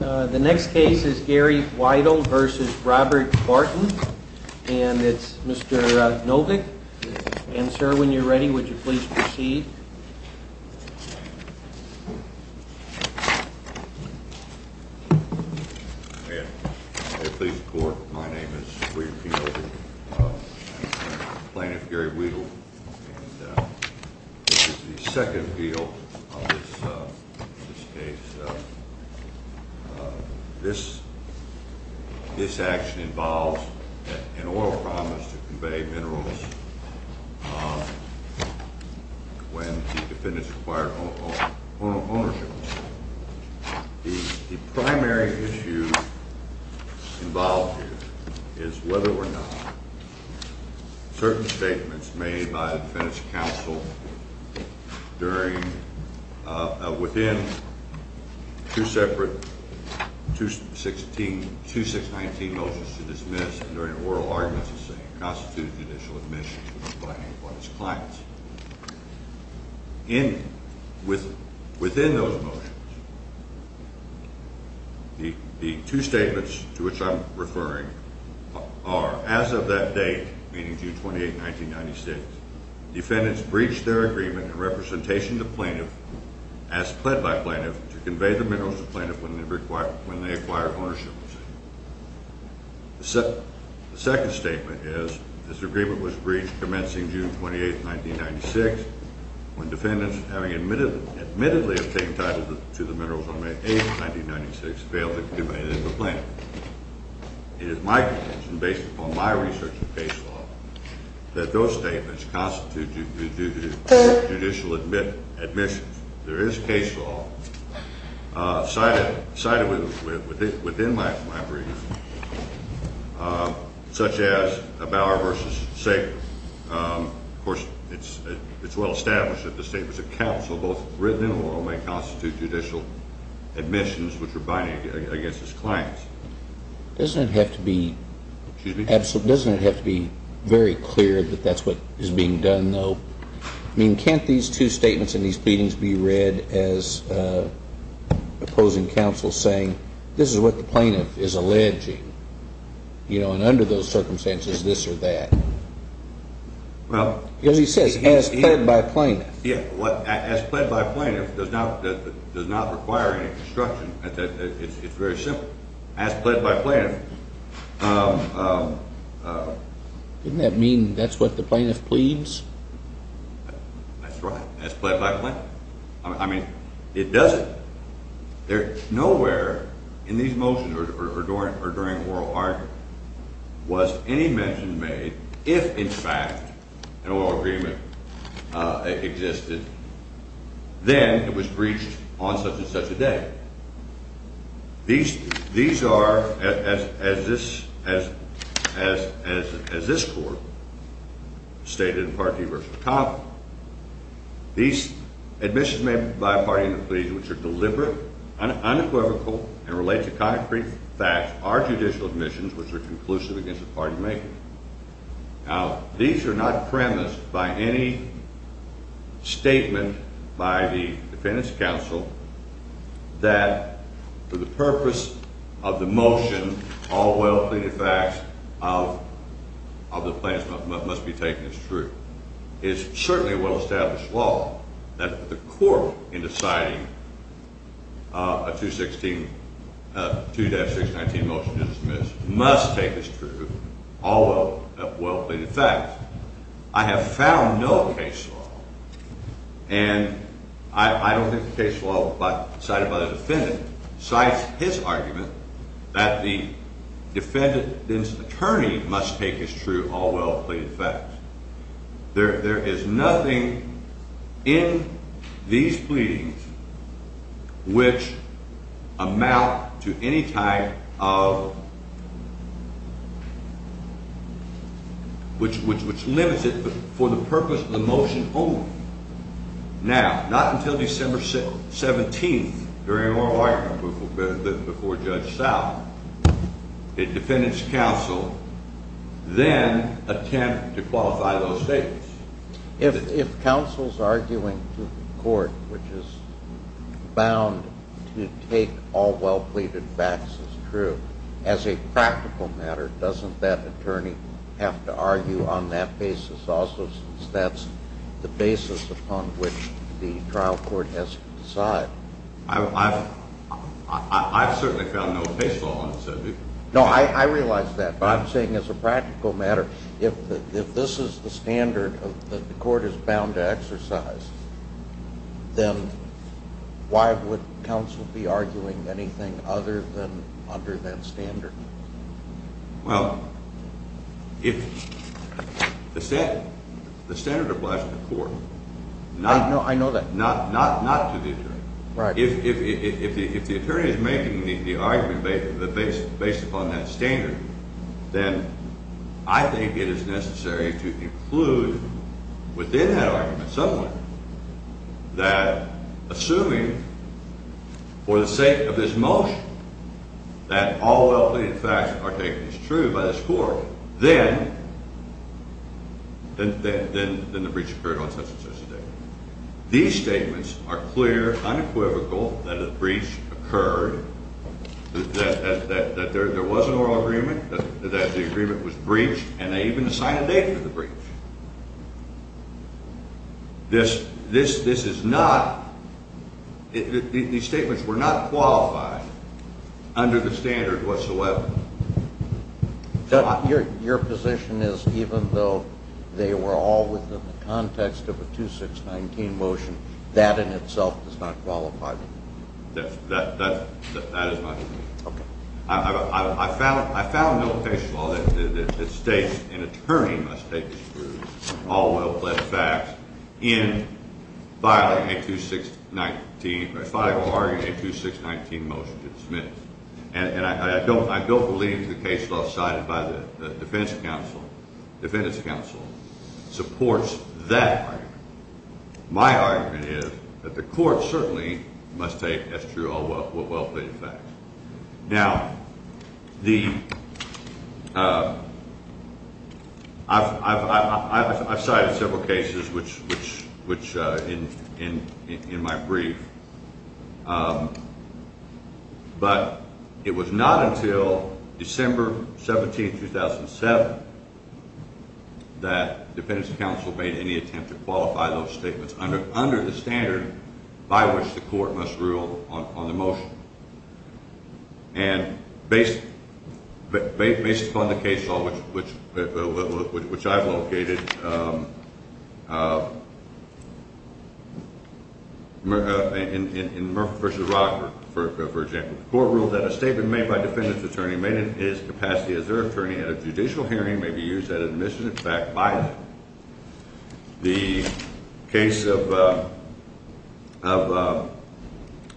The next case is Gary Wiedle v. Robert Barton, and it's Mr. Novick, answer when you're ready. Would you please proceed? Mr. Wiedle v. Robert Barton May I please report? My name is Reed Fielder, plaintiff Gary Wiedle, and this is the second appeal of this case. This action involves an oil promise to convey minerals when the defendants acquired ownership. The primary issue involved here is whether or not certain statements made by the defendant's counsel within two separate 2619 motions to dismiss, during oral arguments, constitute judicial admission by any one of his clients. Within those motions, the two statements to which I'm referring are, as of that date, meaning June 28, 1996, defendants breached their agreement in representation to plaintiff, as pled by plaintiff, to convey the minerals to plaintiff when they acquired ownership. The second statement is, this agreement was breached commencing June 28, 1996, when defendants, having admittedly obtained title to the minerals on May 8, 1996, failed to convey it to the plaintiff. It is my conviction, based upon my research of case law, that those statements constitute judicial admissions. There is case law cited within my brief, such as Bauer v. Sager. Of course, it's well established that the statements of counsel, both written and oral, may constitute judicial admissions which are binding against his clients. Doesn't it have to be very clear that that's what is being done, though? I mean, can't these two statements and these pleadings be read as opposing counsel saying, this is what the plaintiff is alleging? You know, and under those circumstances, this or that? Well… Because he says, as pled by plaintiff. Yeah. As pled by plaintiff does not require any construction. It's very simple. As pled by plaintiff. Doesn't that mean that's what the plaintiff pleads? That's right. As pled by plaintiff. I mean, it doesn't. Nowhere in these motions or during oral argument was any mention made if, in fact, an oral agreement existed, then it was breached on such and such a day. These are, as this court stated in Parkey v. Tompkins, these admissions made by a party in the pleas which are deliberate, unequivocal, and relate to concrete facts are judicial admissions which are conclusive against a party maker. Now, these are not premised by any statement by the defendant's counsel that, for the purpose of the motion, all well-pleaded facts of the plaintiff's motion must be taken as true. It's certainly a well-established law that the court, in deciding a 2-619 motion to dismiss, must take as true all well-pleaded facts. I have found no case law, and I don't think the case law cited by the defendant cites his argument that the defendant's attorney must take as true all well-pleaded facts. There is nothing in these pleadings which amount to any type of – which limits it for the purpose of the motion only. Now, not until December 17th, during an oral argument before Judge South, did the defendant's counsel then attempt to qualify those statements. If counsel's arguing to the court which is bound to take all well-pleaded facts as true, as a practical matter, doesn't that attorney have to argue on that basis also, since that's the basis upon which the trial court has to decide? I've certainly found no case law. No, I realize that, but I'm saying as a practical matter, if this is the standard that the court is bound to exercise, then why would counsel be arguing anything other than under that standard? Well, if the standard applies to the court – I know that. Not to the attorney. Right. If the attorney is making the argument based upon that standard, then I think it is necessary to include within that argument somewhere that assuming for the sake of this motion that all well-pleaded facts are taken as true by this court, then the breach occurred on such and such a day. These statements are clear, unequivocal, that a breach occurred, that there was an oral agreement, that the agreement was breached, and they even assigned a date for the breach. This is not – these statements were not qualified under the standard whatsoever. Your position is even though they were all within the context of a 2619 motion, that in itself does not qualify? That is my position. Okay. I found no case law that states an attorney must take as true all well-plaid facts in filing a 2619 – if I were to argue a 2619 motion to dismiss. And I don't believe the case law cited by the defense counsel supports that argument. My argument is that the court certainly must take as true all well-plaid facts. Now, the – I've cited several cases which – in my brief, but it was not until December 17, 2007, that defense counsel made any attempt to qualify those statements under the standard by which the court must rule on the motion. And based upon the case law, which I've located, in Murphy v. Rockford, for example, the court ruled that a statement made by a defendant's attorney made in his capacity as their attorney at a judicial hearing may be used at admission, in fact, by them. The case of Bower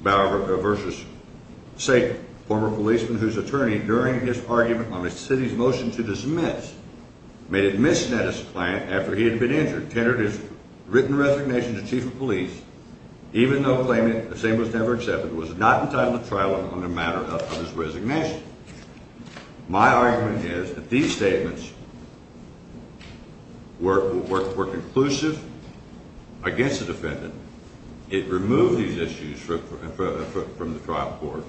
v. Satan, a former policeman whose attorney, during his argument on a city's motion to dismiss, made a misneddance claim after he had been injured, tendered his written resignation to chief of police, even though claiming the same was never accepted, was not entitled to trial on the matter of his resignation. My argument is that these statements were conclusive against the defendant. It removed these issues from the trial court,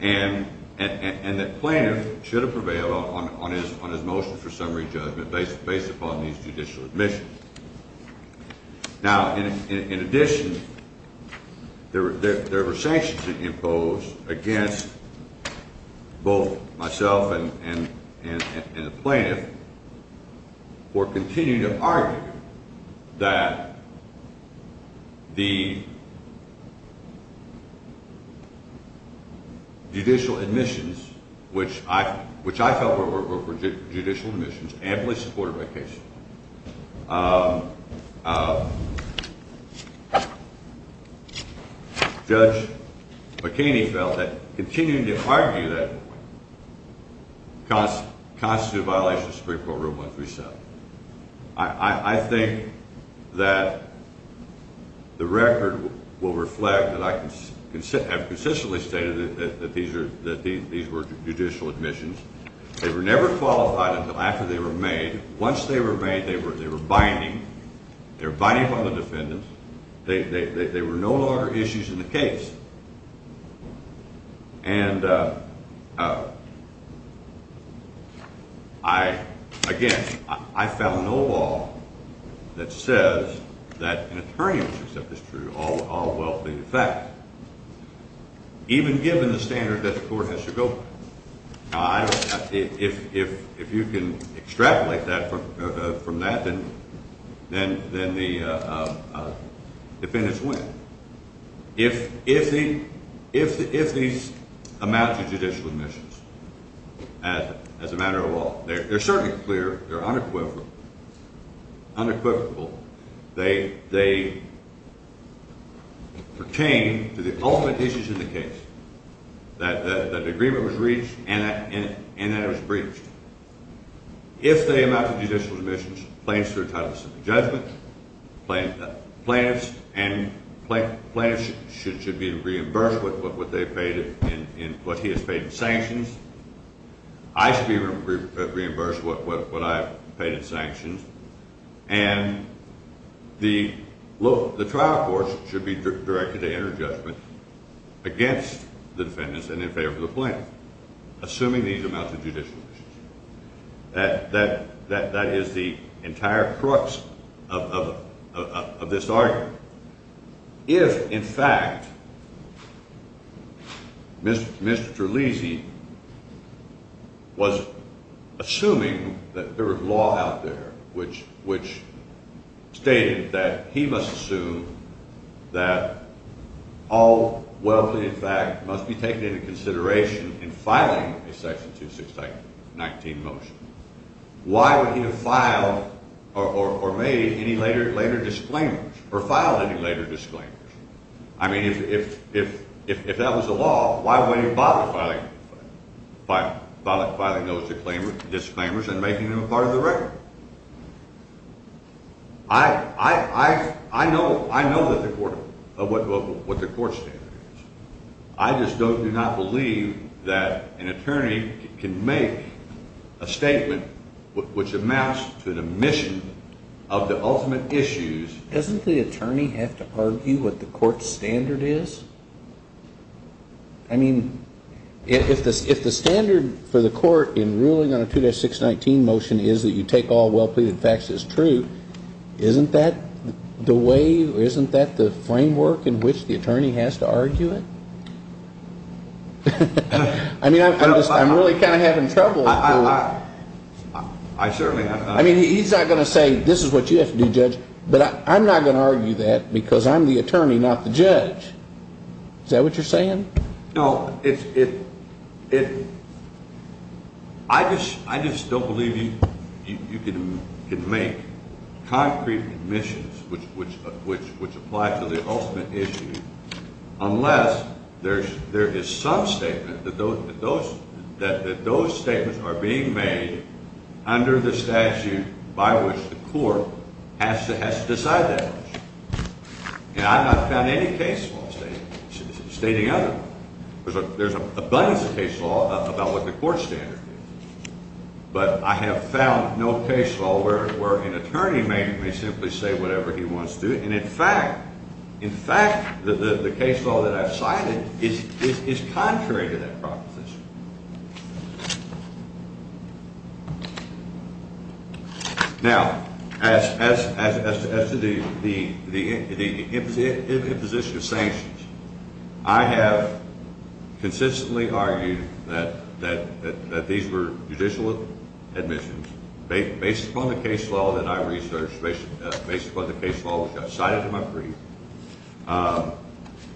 and that plaintiff should have prevailed on his motion for summary judgment based upon these judicial admissions. Now, in addition, there were sanctions imposed against both myself and the plaintiff for continuing to argue that the judicial admissions, which I felt were judicial admissions, amply supported by the case, Judge McKinney felt that continuing to argue that constituted a violation of Supreme Court Rule 137. I think that the record will reflect that I have consistently stated that these were judicial admissions. They were never qualified until after they were made. Once they were made, they were binding. They were binding upon the defendant. They were no longer issues in the case. And, again, I found no law that says that an attorney should accept this true, all will be the fact, even given the standard that the court has to go by. Now, if you can extrapolate that from that, then the defendants win. If these amounts of judicial admissions, as a matter of law, they're certainly clear. They're unequivocal. They pertain to the ultimate issues in the case, that the agreement was reached and that it was breached. If they amount to judicial admissions, plaintiffs are entitled to simple judgment. Plaintiffs should be reimbursed with what he has paid in sanctions. I should be reimbursed with what I have paid in sanctions. And the trial court should be directed to enter judgment against the defendants and in favor of the plaintiff, assuming these amount to judicial admissions. That is the entire crux of this argument. If, in fact, Mr. Lisi was assuming that there was law out there which stated that he must assume that all will be in fact must be taken into consideration in filing a section 269 motion, why would he have filed or made any later disclaimers or filed any later disclaimers? I mean, if that was the law, why would he bother filing those disclaimers and making them a part of the record? I know what the court standard is. I just do not believe that an attorney can make a statement which amounts to the mission of the ultimate issues. Doesn't the attorney have to argue what the court standard is? I mean, if the standard for the court in ruling on a 2-619 motion is that you take all well pleaded facts as true, isn't that the way, isn't that the framework in which the attorney has to argue it? I mean, I'm really kind of having trouble. I certainly am. I mean, he's not going to say this is what you have to do, Judge, but I'm not going to argue that because I'm the attorney, not the judge. Is that what you're saying? No, it's – I just don't believe you can make concrete admissions which apply to the ultimate issue unless there is some statement that those statements are being made under the statute by which the court has to decide that. And I have not found any case law stating otherwise. There's a bunch of case law about what the court standard is, but I have found no case law where an attorney may simply say whatever he wants to. And in fact, the case law that I've cited is contrary to that proposition. Now, as to the imposition of sanctions, I have consistently argued that these were judicial admissions based upon the case law that I researched, based upon the case law which I cited in my brief.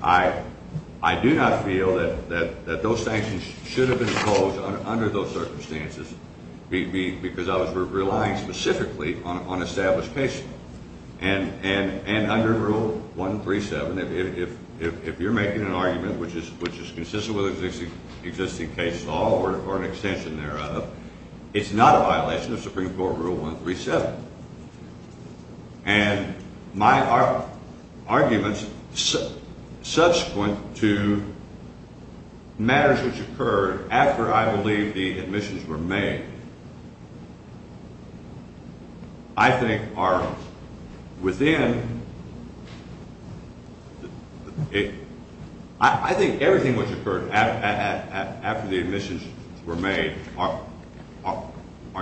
I do not feel that those sanctions should have been imposed under those circumstances because I was relying specifically on established case law. And under Rule 137, if you're making an argument which is consistent with existing case law or an extension thereof, it's not a violation of Supreme Court Rule 137. And my arguments subsequent to matters which occurred after I believe the admissions were made I think are within – I think everything which occurred after the admissions were made are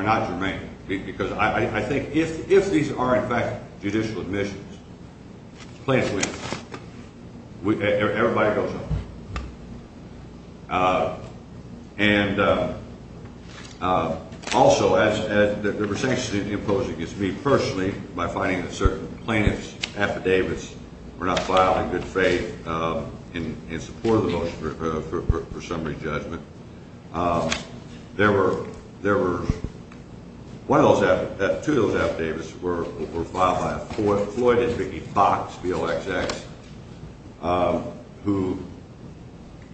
not germane because I think if these are in fact judicial admissions, plaintiff wins. Everybody goes home. And also, there were sanctions imposed against me personally by finding that certain plaintiff's affidavits were not filed in good faith in support of the motion for summary judgment. There were – one of those – two of those affidavits were filed by Floyd and Vicki Fox, V-O-X-X, who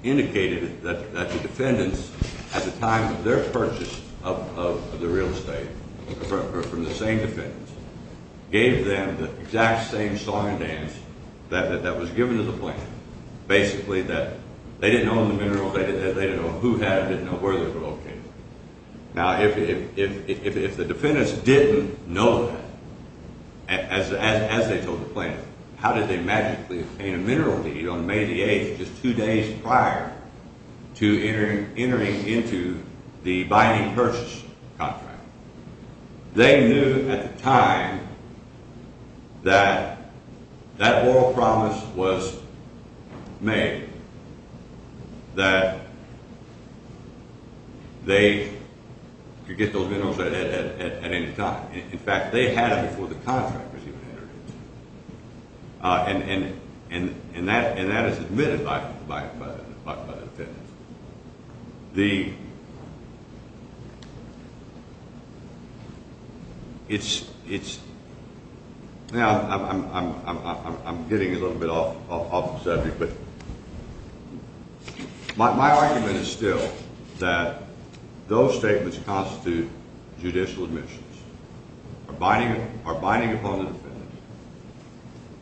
indicated that the defendants at the time of their purchase of the real estate from the same defendants gave them the exact same song and dance that was given to the plaintiff. Basically, that they didn't own the minerals, they didn't know who had them, didn't know where they were located. Now, if the defendants didn't know that, as they told the plaintiff, how did they magically obtain a mineral deed on May the 8th, just two days prior to entering into the binding purchase contract? They knew at the time that that oral promise was made that they could get those minerals at any time. In fact, they had it before the contract was even entered into. And that is admitted by the defendants. The – it's – now, I'm getting a little bit off the subject, but my argument is still that those statements constitute judicial admissions. The plaintiffs are binding upon the defendants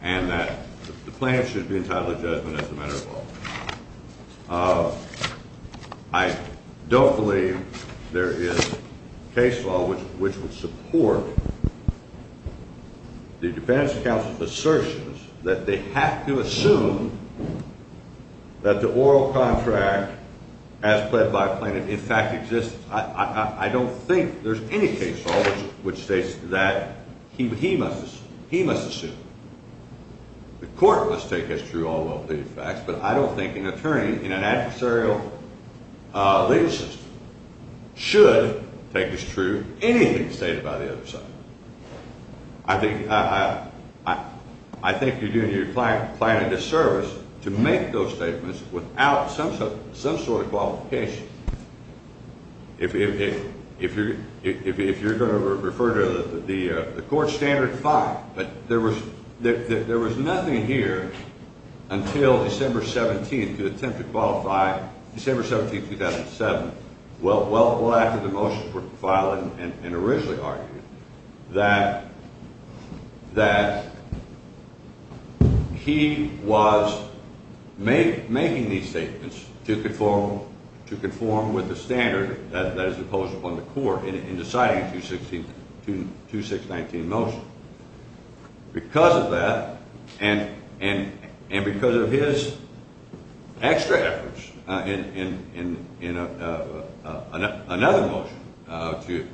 and that the plaintiffs should be entitled to judgment as a matter of law. I don't believe there is case law which would support the defendants' counsel's assertions that they have to assume that the oral contract, as pled by a plaintiff, in fact exists. I don't think there's any case law which states that he must assume. The court must take as true all well-pleaded facts, but I don't think an attorney in an adversarial legal system should take as true anything stated by the other side. I think you're doing – you're planning a disservice to make those statements without some sort of qualification. If you're going to refer to the court's standard five, but there was nothing here until December 17th to attempt to qualify – December 17th, 2007, well after the motions were filed and originally argued. That he was making these statements to conform with the standard that is imposed upon the court in deciding the 2619 motion. Because of that and because of his extra efforts in another motion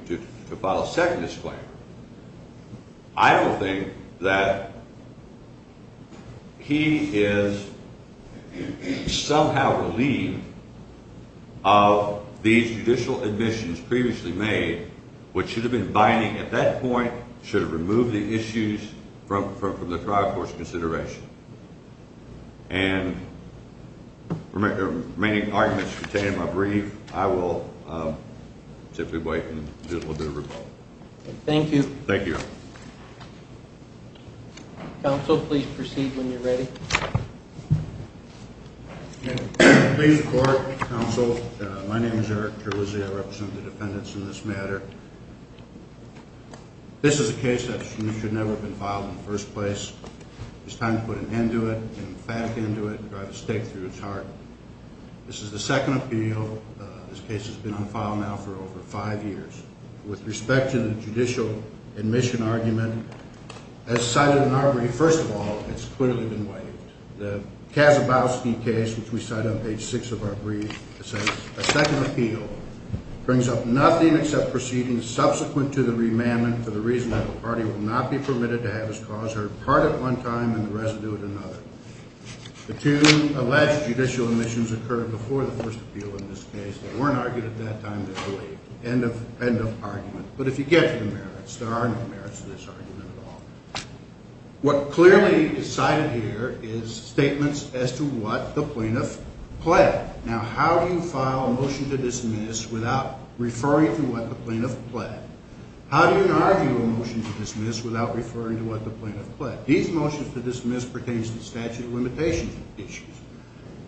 to file a second disclaimer, I don't think that he is somehow relieved of these judicial admissions previously made, which should have been binding at that point. Should have removed the issues from the trial court's consideration. And the remaining arguments contained in my brief, I will simply wait and do a little bit of rebuttal. Thank you. Thank you. Please report, counsel. My name is Eric Terlizzi. I represent the defendants in this matter. This is a case that should never have been filed in the first place. It's time to put an end to it, an emphatic end to it, and drive a stake through its heart. This is the second appeal. This case has been on file now for over five years. With respect to the judicial admission argument, as cited in our brief, first of all, it's clearly been waived. The Kazabowski case, which we cite on page 6 of our brief, says, A second appeal brings up nothing except proceedings subsequent to the remandment for the reason that the party will not be permitted to have its cause heard part at one time and the residue at another. The two alleged judicial admissions occurred before the first appeal in this case. They weren't argued at that time. They're waived. End of argument. But if you get to the merits, there are no merits to this argument at all. What clearly is cited here is statements as to what the plaintiff pled. Now, how do you file a motion to dismiss without referring to what the plaintiff pled? How do you argue a motion to dismiss without referring to what the plaintiff pled? These motions to dismiss pertains to statute of limitations issues.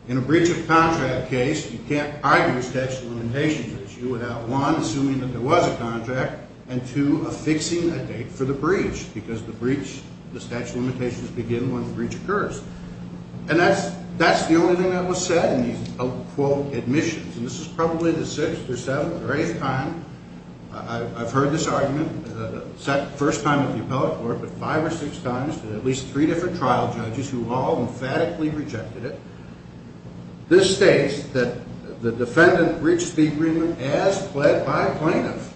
In a breach of contract case, you can't argue a statute of limitations issue without, one, assuming that there was a contract, and, two, affixing a date for the breach because the breach, the statute of limitations begin when the breach occurs. And that's the only thing that was said in these, quote, admissions. And this is probably the sixth or seventh or eighth time I've heard this argument. First time at the appellate court, but five or six times to at least three different trial judges who all emphatically rejected it. This states that the defendant breached the agreement as pled by plaintiff.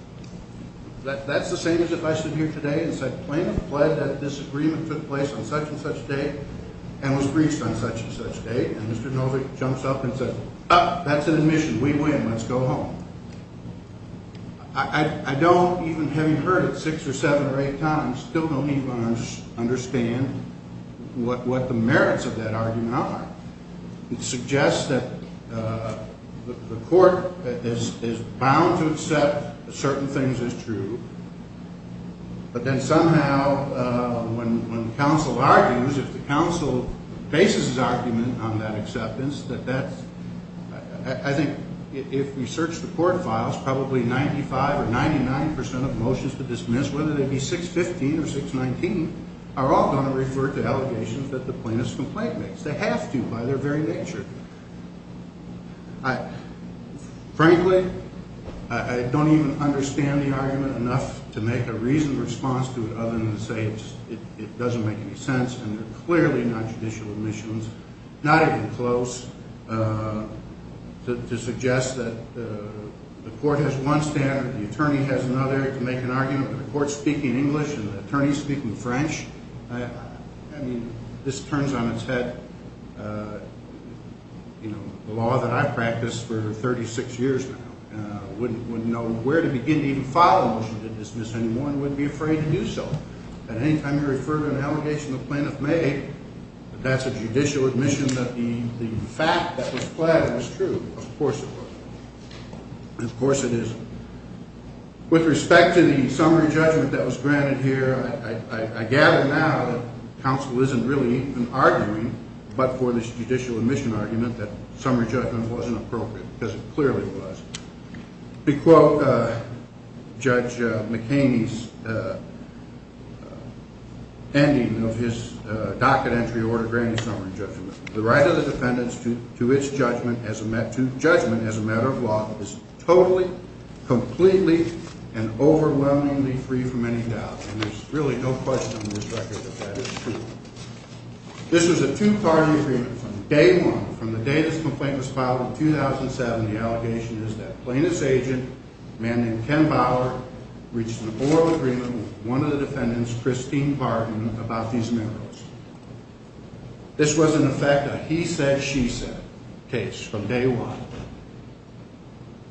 That's the same as if I stood here today and said plaintiff pled that this agreement took place on such and such date and was breached on such and such date. And Mr. Novick jumps up and says, ah, that's an admission. We win. Let's go home. I don't, even having heard it six or seven or eight times, still don't even understand what the merits of that argument are. It suggests that the court is bound to accept certain things as true. But then somehow when counsel argues, if the counsel bases his argument on that acceptance, that that's, I think, if we search the court files, probably 95 or 99 percent of motions to dismiss, whether they be 615 or 619, are all going to refer to allegations that the plaintiff's complaint makes. They have to by their very nature. Frankly, I don't even understand the argument enough to make a reasoned response to it other than to say it doesn't make any sense. And they're clearly not judicial admissions, not even close, to suggest that the court has one standard, the attorney has another, to make an argument that the court's speaking English and the attorney's speaking French. I mean, this turns on its head, you know, the law that I've practiced for 36 years now, wouldn't know where to begin to even file a motion to dismiss anyone, wouldn't be afraid to do so. At any time you refer to an allegation the plaintiff made, that's a judicial admission that the fact that was flagged was true. Of course it wasn't. Of course it isn't. With respect to the summary judgment that was granted here, I gather now that counsel isn't really even arguing, but for this judicial admission argument, that summary judgment wasn't appropriate, because it clearly was. To quote Judge McHaney's ending of his docket entry order granting summary judgment, the right of the defendants to judgment as a matter of law is totally, completely, and overwhelmingly free from any doubt. And there's really no question on this record that that is true. This was a two-party agreement from day one. From the day this complaint was filed in 2007, the allegation is that plaintiff's agent, a man named Ken Bauer, reached an oral agreement with one of the defendants, Christine Hartman, about these merits. This was, in effect, a he-said-she-said case from day one.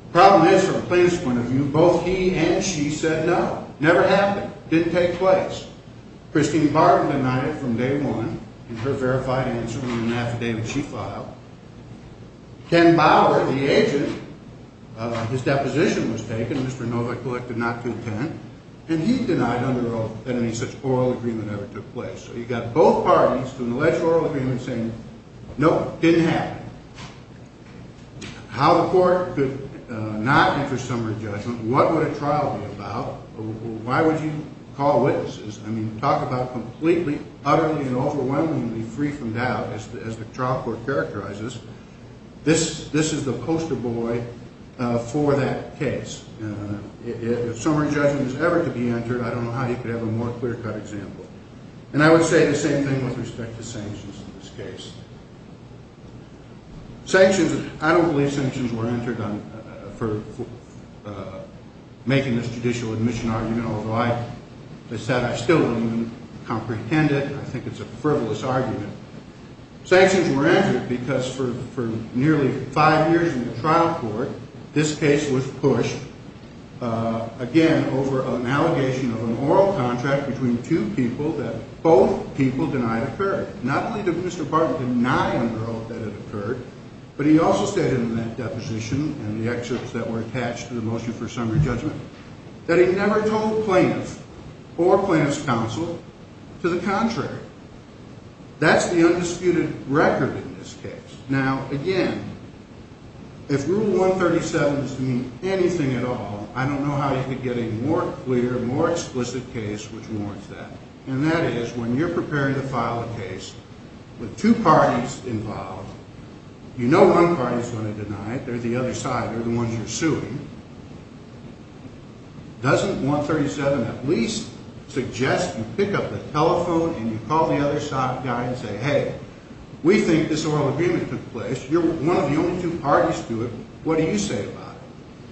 The problem is, from a plaintiff's point of view, both he and she said no. It never happened. It didn't take place. Christine Barton denied it from day one in her verified answer in an affidavit she filed. Ken Bauer, the agent, his deposition was taken, Mr. Novak collected not to attend, and he denied under any such oral agreement ever took place. So you've got both parties through an alleged oral agreement saying, nope, didn't happen. How the court could not enter summary judgment, what would a trial be about, why would you call witnesses, I mean, talk about completely, utterly, and overwhelmingly free from doubt, as the trial court characterizes, this is the poster boy for that case. If summary judgment is ever to be entered, I don't know how you could have a more clear-cut example. And I would say the same thing with respect to sanctions in this case. Sanctions, I don't believe sanctions were entered for making this judicial admission argument, although I still don't even comprehend it. I think it's a frivolous argument. Sanctions were entered because for nearly five years in the trial court, this case was pushed, again, over an allegation of an oral contract between two people that both people denied occurred. Not only did Mr. Barton deny under oath that it occurred, but he also stated in that deposition and the excerpts that were attached to the motion for summary judgment, that he never told plaintiffs or plaintiff's counsel to the contrary. That's the undisputed record in this case. Now, again, if Rule 137 doesn't mean anything at all, I don't know how you could get a more clear, more explicit case which warrants that. And that is, when you're preparing to file a case with two parties involved, you know one party's going to deny it, they're the other side, they're the ones you're suing. Doesn't 137 at least suggest you pick up the telephone and you call the other side guy and say, hey, we think this oral agreement took place, you're one of the only two parties to it, what do you say about it?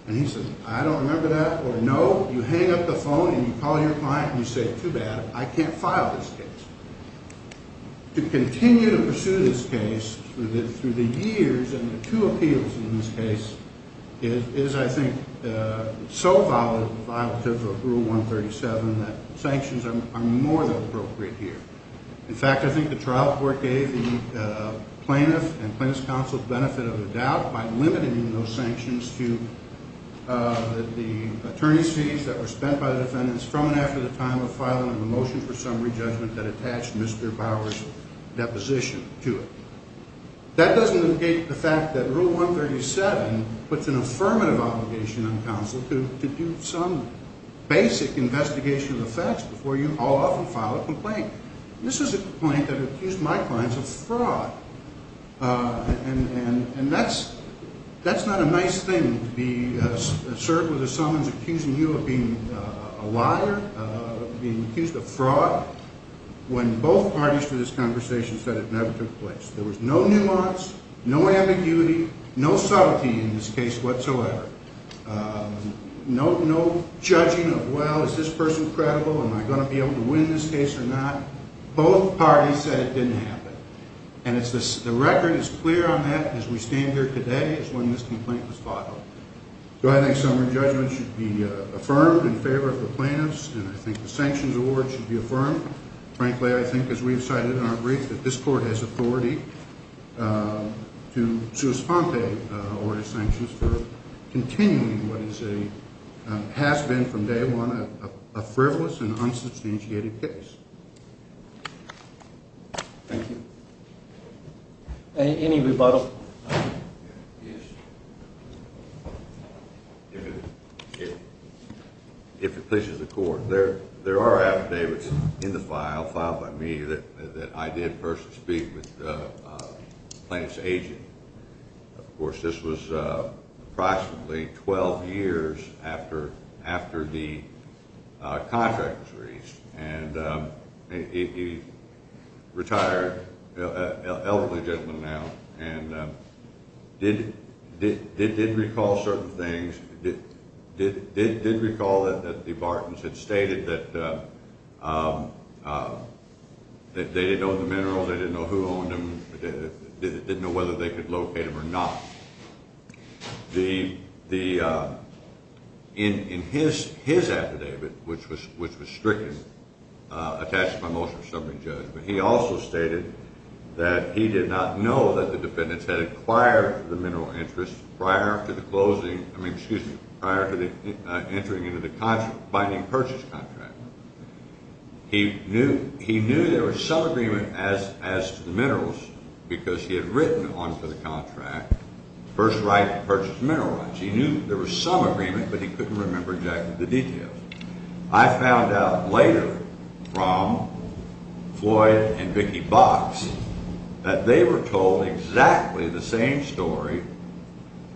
And he says, I don't remember that, or no, you hang up the phone and you call your client and you say, too bad, I can't file this case. To continue to pursue this case through the years and the two appeals in this case is, I think, so violative of Rule 137 that sanctions are more than appropriate here. In fact, I think the trial court gave the plaintiff and plaintiff's counsel the benefit of the doubt by limiting those sanctions to the attorney's fees that were spent by the defendants from and after the time of filing a motion for summary judgment that attached Mr. Bauer's deposition to it. That doesn't negate the fact that Rule 137 puts an affirmative obligation on counsel to do some basic investigation of the facts before you all off and file a complaint. This is a complaint that accused my clients of fraud, and that's not a nice thing to be served with as someone's accusing you of being a liar, of being accused of fraud, when both parties to this conversation said it never took place. There was no nuance, no ambiguity, no subtlety in this case whatsoever, no judging of, well, is this person credible, am I going to be able to win this case or not? Both parties said it didn't happen, and the record is clear on that as we stand here today is when this complaint was filed. So I think summary judgment should be affirmed in favor of the plaintiffs, and I think the sanctions award should be affirmed. Frankly, I think, as we have cited in our brief, that this court has authority to suspend the award of sanctions for continuing what has been from day one a frivolous and unsubstantiated case. Thank you. Any rebuttal? Yes. If it pleases the court, there are affidavits in the file, filed by me, that I did personally speak with the plaintiff's agent. Of course, this was approximately 12 years after the contract was reached, and he retired, an elderly gentleman now, and did recall certain things, did recall that the Bartons had stated that they didn't own the mineral, they didn't know who owned them, didn't know whether they could locate them or not. In his affidavit, which was stricken, attached by motion of summary judgment, he also stated that he did not know that the defendants had acquired the mineral interest prior to the closing, I mean, excuse me, prior to entering into the binding purchase contract. He knew there was some agreement as to the minerals because he had written onto the contract, first right to purchase mineral rights. He knew there was some agreement, but he couldn't remember exactly the details. I found out later from Floyd and Vicki Box that they were told exactly the same story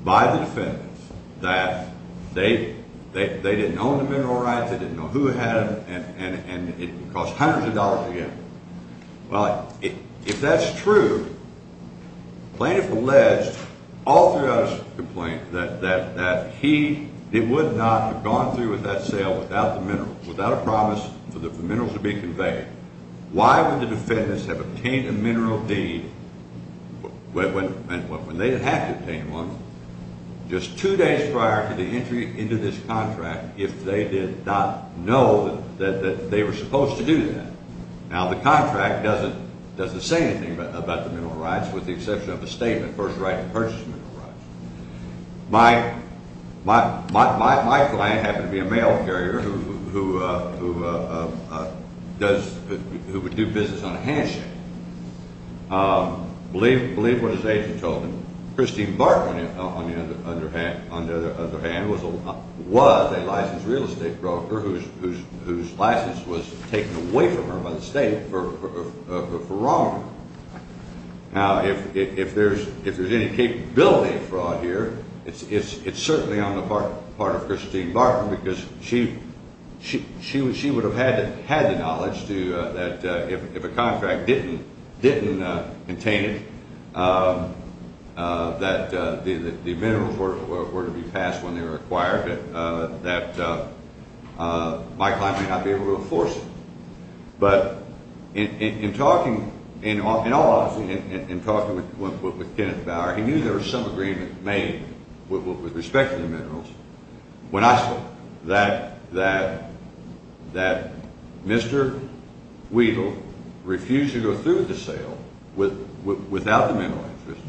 by the defendants, that they didn't own the mineral rights, they didn't know who had them, and it cost hundreds of dollars to get them. Well, if that's true, plaintiff alleged all throughout his complaint that he would not have gone through with that sale without the minerals, without a promise for the minerals to be conveyed. Why would the defendants have obtained a mineral deed when they would have to obtain one just two days prior to the entry into this contract if they did not know that they were supposed to do that? Now, the contract doesn't say anything about the mineral rights with the exception of a statement, first right to purchase mineral rights. My client happened to be a mail carrier who would do business on a handshake. Believe what his agent told him. Christine Barton, on the other hand, was a licensed real estate broker whose license was taken away from her by the state for wrongdoing. Now, if there's any capability of fraud here, it's certainly on the part of Christine Barton because she would have had the knowledge that if a contract didn't contain it, that the minerals were to be passed when they were acquired, that my client may not be able to enforce it. But in all honesty, in talking with Kenneth Bauer, he knew there was some agreement made with respect to the minerals. When I saw that Mr. Weedle refused to go through with the sale without the mineral interest,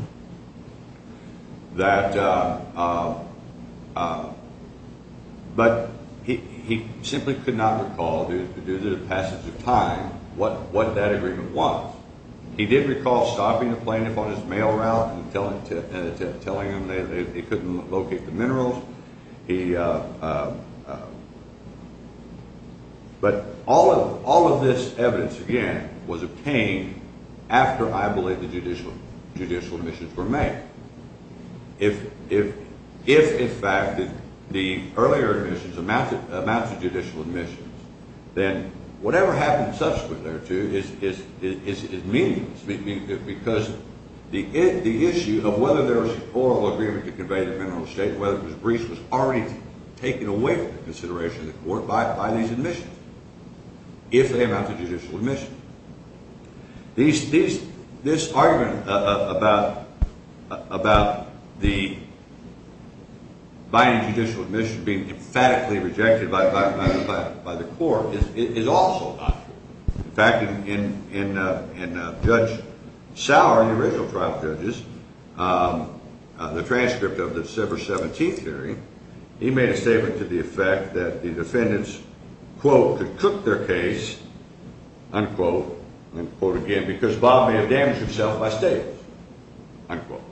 but he simply could not recall, due to the passage of time, what that agreement was. He did recall stopping the plaintiff on his mail route and telling him that he couldn't locate the minerals. But all of this evidence, again, was obtained after, I believe, the judicial admissions were made. If, in fact, the earlier admissions amount to judicial admissions, then whatever happened subsequent thereto is meaningless because the issue of whether there was an oral agreement to convey the mineral estate, whether it was breached, was already taken away from the consideration of the court by these admissions if they amount to judicial admissions. This argument about the binding judicial admission being emphatically rejected by the court is also not true. In fact, in Judge Sauer, the original trial judge, the transcript of the December 17th hearing, he made a statement to the effect that the defendants, quote, could cook their case, unquote, unquote again, because Bob may have damaged himself by stables, unquote.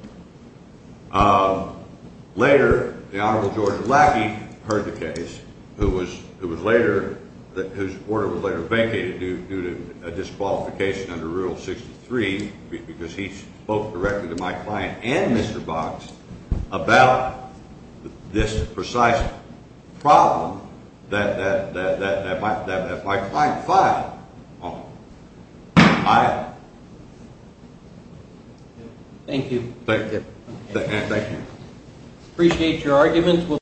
Later, the Honorable George Lackey heard the case, whose order was later vacated due to a disqualification under Rule 63 because he spoke directly to my client and Mr. Boggs about this precise problem that my client filed. Thank you. Thank you. Thank you. Appreciate your arguments.